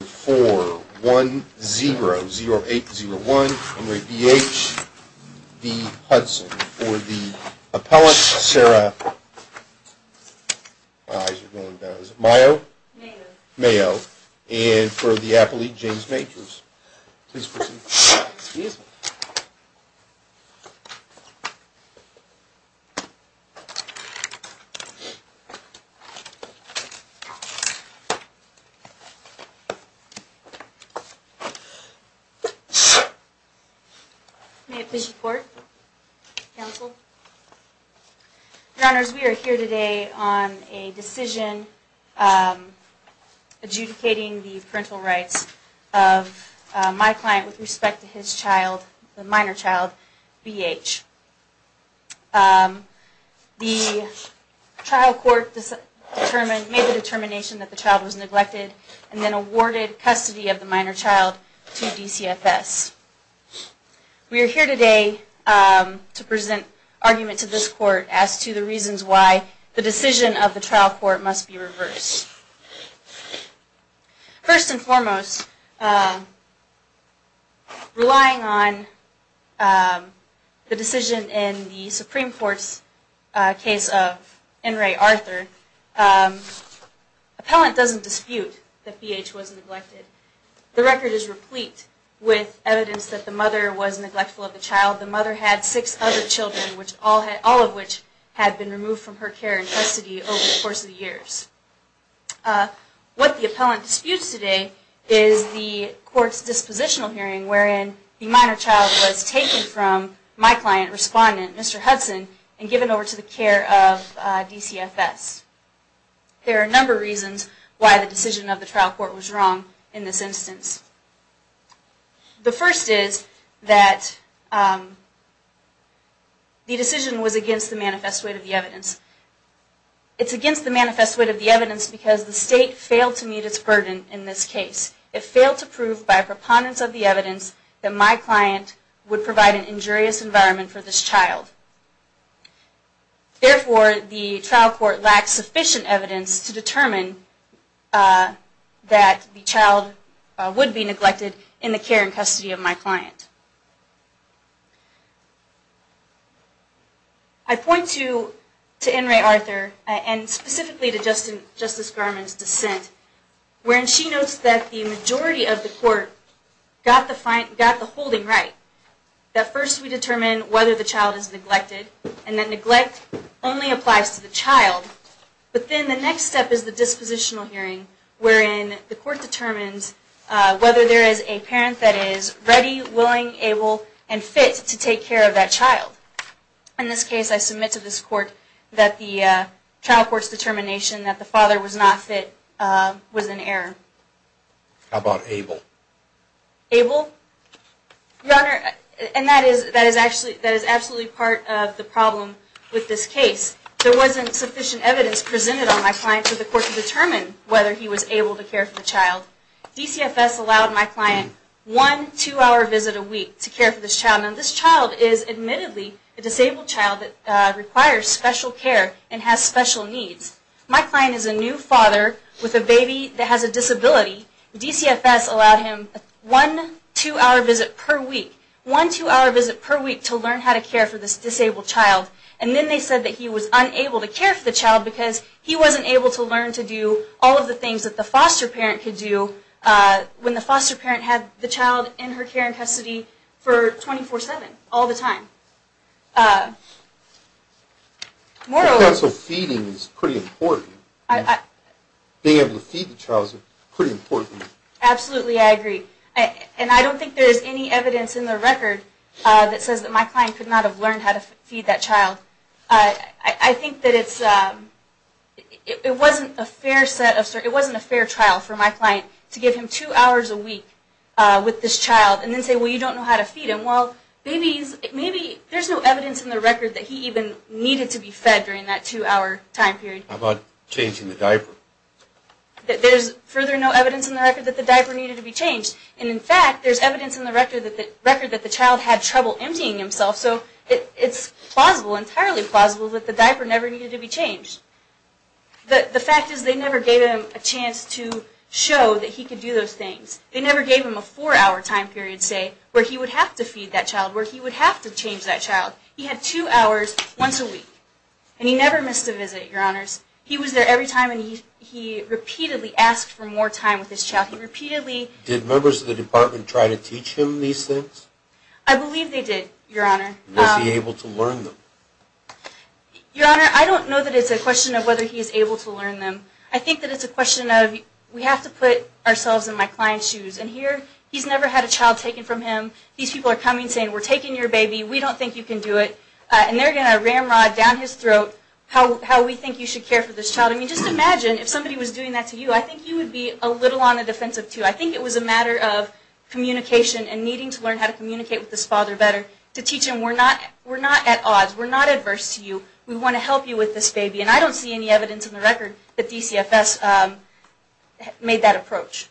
for 1-0-0-8-0-1, and re B.H., B. Hudson, for the Appellant, Sarah Mayo, and for the Appellate, James Makers. May I please report, counsel? Your Honors, we are here today on a decision adjudicating the parental rights of my client with respect to his child, the minor child, B.H. The trial court made the determination that the child was neglected and then awarded custody of the minor child to DCFS. We are here today to present argument to this court as to the reasons why the decision of the trial court must be reversed. First and foremost, relying on the decision in the Supreme Court's case of N. Ray Arthur, Appellant doesn't dispute that B.H. was neglected. The record is replete with evidence that the mother was neglectful of the child. The mother had six other children, all of which had been removed from her care and custody over the course of the years. What the Appellant disputes today is the court's dispositional hearing wherein the minor child was taken from my client, respondent, Mr. Hudson, and given over to the care of DCFS. There are a number of reasons why the decision of the trial court was wrong in this instance. The first is that the decision was against the manifest weight of the evidence. It's against the manifest weight of the evidence because the state failed to meet its burden in this case. It failed to prove by a preponderance of the evidence that my client would provide an injurious environment for this child. Therefore, the trial court lacks sufficient evidence to determine that the child would be neglected in the care and custody of my client. I point to N. Ray Arthur, and specifically to Justice Garmon's dissent, wherein she notes that the majority of the court got the holding right. That first we determine whether the child is neglected, and that neglect only applies to the child. But then the next step is the dispositional hearing wherein the court determines whether there is a parent that is ready, willing, able, and fit to take care of that child. In this case, I submit to this court that the trial court's determination that the father was not fit was in error. How about able? Able? Your Honor, and that is absolutely part of the problem with this case. There wasn't sufficient evidence presented on my client to the court to determine whether he was able to care for the child. DCFS allowed my client one two-hour visit a week to care for this child. Now this child is admittedly a disabled child that requires special care and has special needs. My client is a new father with a baby that has a disability. DCFS allowed him one two-hour visit per week. One two-hour visit per week to learn how to care for this disabled child. And then they said that he was unable to care for the child because he wasn't able to learn to do all of the things that the foster parent could do when the foster parent had the child in her care and custody for 24-7, all the time. Moral of the story is that feeding is pretty important. Being able to feed the child is pretty important. Absolutely, I agree. And I don't think there's any evidence in the record that says that my client could not have learned how to feed that child. I think that it wasn't a fair trial for my client to give him two hours a week with this child and then say, well, you don't know how to feed him. Well, maybe there's no evidence in the record that he even needed to be fed during that two-hour time period. How about changing the diaper? There's further no evidence in the record that the diaper needed to be changed. And in fact, there's evidence in the record that the child had trouble emptying himself. So it's plausible, entirely plausible, that the diaper never needed to be changed. The fact is they never gave him a chance to show that he could do those things. They never gave him a four-hour time period, say, where he would have to feed that child, where he would have to change that child. He had two hours once a week. And he never missed a visit, Your Honors. He was there every time, and he repeatedly asked for more time with his child. He repeatedly... Did members of the department try to teach him these things? I believe they did, Your Honor. Was he able to learn them? Your Honor, I don't know that it's a question of whether he's able to learn them. I think that it's a question of, we have to put ourselves in my client's shoes. And here, he's never had a child taken from him. These people are coming saying, we're taking your baby. We don't think you can do it. And they're going to ramrod down his throat how we think you should care for this child. I mean, just imagine if somebody was doing that to you. I think you would be a little on the defensive, too. I think it was a matter of communication and needing to learn how to communicate with this father better, to teach him we're not at odds. We're not adverse to you. We want to help you with this baby. And I don't see any evidence in the record that DCFS made that approach.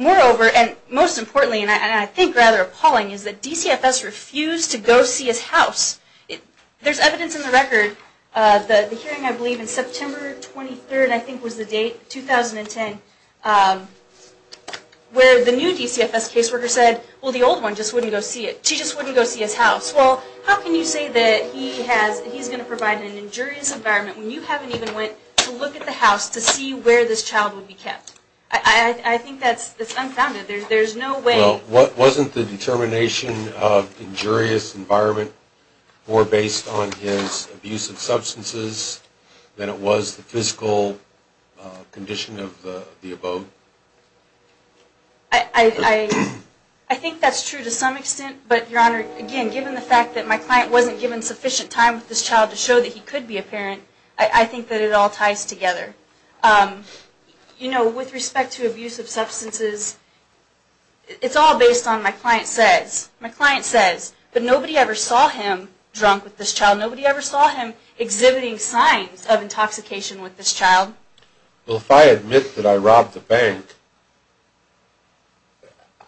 Moreover, and most importantly, and I think rather appalling, is that DCFS refused to go see his house. There's evidence in the record, the hearing I believe in September 23rd, I think was the date, 2010, where the new DCFS caseworker said, well, the old one just wouldn't go see it. She just wouldn't go see his house. Well, how can you say that he's going to provide an injurious environment when you haven't even went to look at the house to see where this child would be kept? I think that's unfounded. There's no way. Well, wasn't the determination of injurious environment more based on his abusive substances than it was the physical condition of the abode? I think that's true to some extent. But, Your Honor, again, given the fact that my client wasn't given sufficient time with this child to show that he could be a parent, I think that it all ties together. You know, with respect to abusive substances, it's all based on my client says. My client says, but nobody ever saw him drunk with this child. Nobody ever saw him exhibiting signs of intoxication with this child. Well, if I admit that I robbed the bank,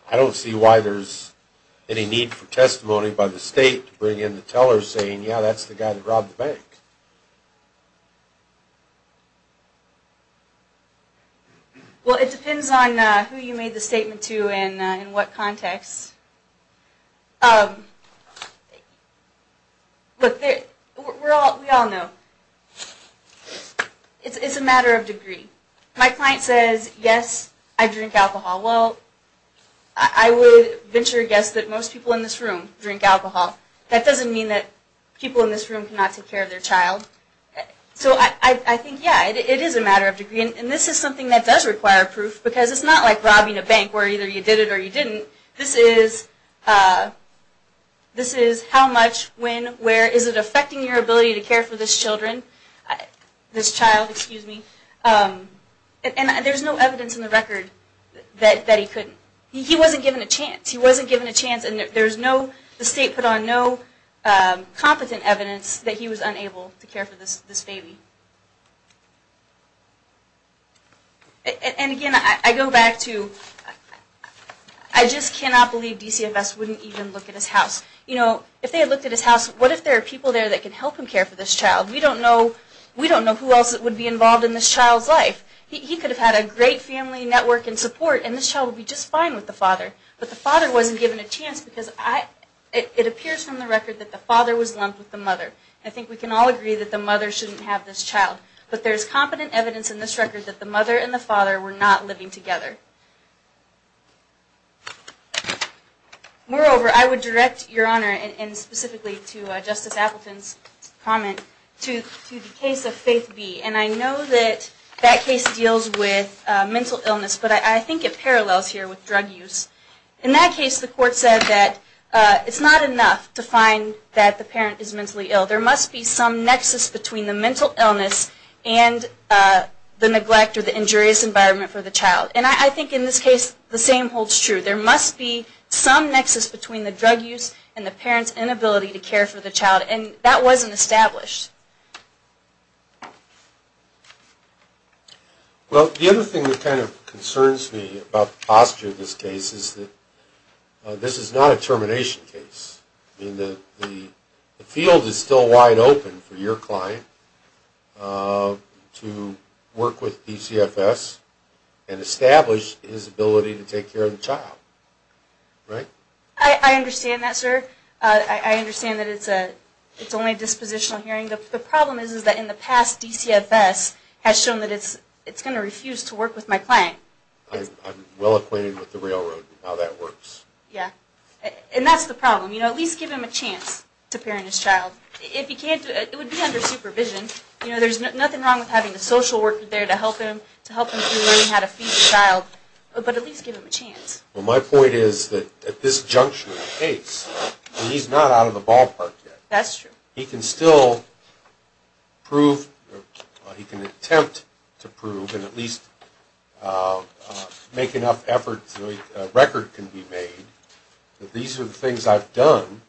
I don't see why there's any need for testimony by the state to bring in the teller saying, yeah, that's the guy that robbed the bank. Well, it depends on who you made the statement to and in what context. Look, we all know it's a matter of degree. My client says, yes, I drink alcohol. Well, I would venture to guess that most people in this room drink alcohol. That doesn't mean that people in this room cannot take care of their child. So I think, yeah, it is a matter of degree. And this is something that does require proof because it's not like robbing a bank where either you did it or you didn't. This is how much, when, where. Is it affecting your ability to care for this child? And there's no evidence in the record that he couldn't. He wasn't given a chance. He wasn't given a chance, and the state put on no competent evidence that he was unable to care for this baby. And again, I go back to, I just cannot believe DCFS wouldn't even look at his house. You know, if they had looked at his house, what if there are people there that can help him care for this child? We don't know who else would be involved in this child's life. He could have had a great family network and support, and this child would be just fine with the father. But the father wasn't given a chance because it appears from the record that the father was lumped with the mother. I think we can all agree that the mother shouldn't have this child. But there's competent evidence in this record that the mother and the father were not living together. Moreover, I would direct Your Honor, and specifically to Justice Appleton's comment, to the case of Faith B. And I know that that case deals with mental illness, but I think it parallels here with drug use. In that case, the court said that it's not enough to find that the parent is mentally ill. There must be some nexus between the mental illness and the neglect or the injurious environment for the child. And I think in this case, the same holds true. There must be some nexus between the drug use and the parent's inability to care for the child, and that wasn't established. Well, the other thing that kind of concerns me about the posture of this case is that this is not a termination case. I mean, the field is still wide open for your client to work with PCFS and establish his ability to take care of the child. Right? I understand that, sir. I understand that it's only a dispositional hearing, but the problem is that in the past, DCFS has shown that it's going to refuse to work with my client. I'm well acquainted with the railroad and how that works. Yeah. And that's the problem. You know, at least give him a chance to parent his child. If he can't do it, it would be under supervision. You know, there's nothing wrong with having a social worker there to help him, to help him through learning how to feed the child, but at least give him a chance. Well, my point is that at this juncture of the case, he's not out of the ballpark yet. That's true. He can still prove or he can attempt to prove and at least make enough effort so a record can be made that these are the things I've done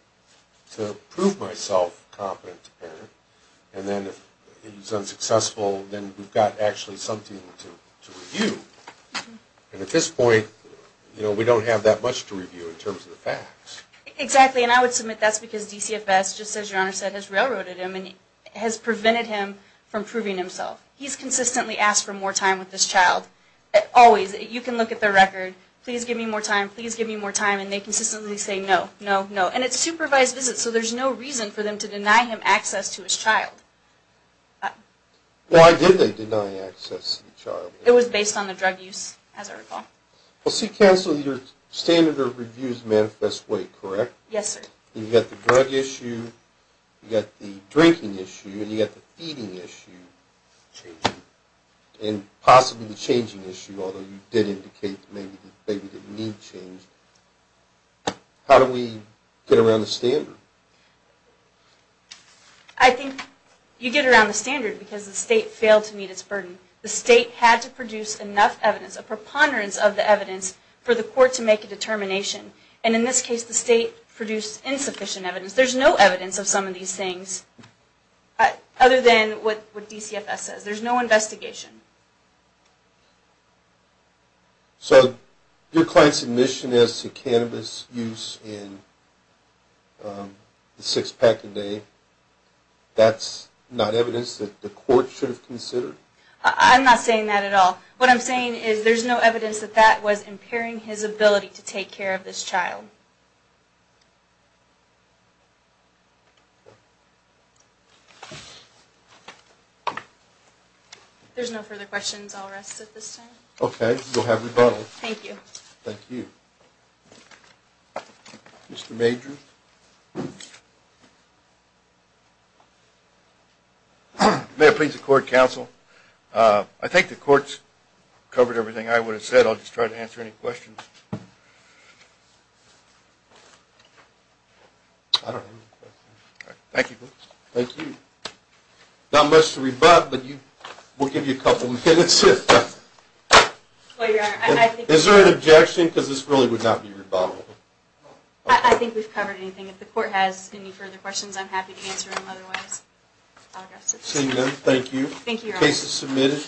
to prove myself competent to parent. And then if he's unsuccessful, then we've got actually something to review. And at this point, you know, we don't have that much to review in terms of the facts. Exactly, and I would submit that's because DCFS, just as Your Honor said, has railroaded him and has prevented him from proving himself. He's consistently asked for more time with this child. Always, you can look at the record, please give me more time, please give me more time, and they consistently say no, no, no. And it's supervised visits, so there's no reason for them to deny him access to his child. Why did they deny access to the child? It was based on the drug use, as I recall. Well, Counsel, your standard of review is manifest way, correct? Yes, sir. You've got the drug issue, you've got the drinking issue, and you've got the feeding issue. And possibly the changing issue, although you did indicate maybe the need changed. How do we get around the standard? I think you get around the standard because the state failed to meet its burden. The state had to produce enough evidence, a preponderance of the evidence, for the court to make a determination. And in this case, the state produced insufficient evidence. There's no evidence of some of these things other than what DCFS says. There's no investigation. So your client's admission as to cannabis use in the six-pack a day, that's not evidence that the court should have considered? I'm not saying that at all. What I'm saying is there's no evidence that that was impairing his ability to take care of this child. If there's no further questions, I'll rest at this time. Okay, you'll have rebuttal. Thank you. Thank you. Thank you. Mr. Major? May I please accord counsel? I think the court's covered everything I would have said. I'll just try to answer any questions. I don't have any questions. Thank you. Thank you. Not much to rebut, but we'll give you a couple minutes. Is there an objection? Because this really would not be rebuttable. I think we've covered everything. If the court has any further questions, I'm happy to answer them otherwise. Thank you. Thank you. Case is submitted.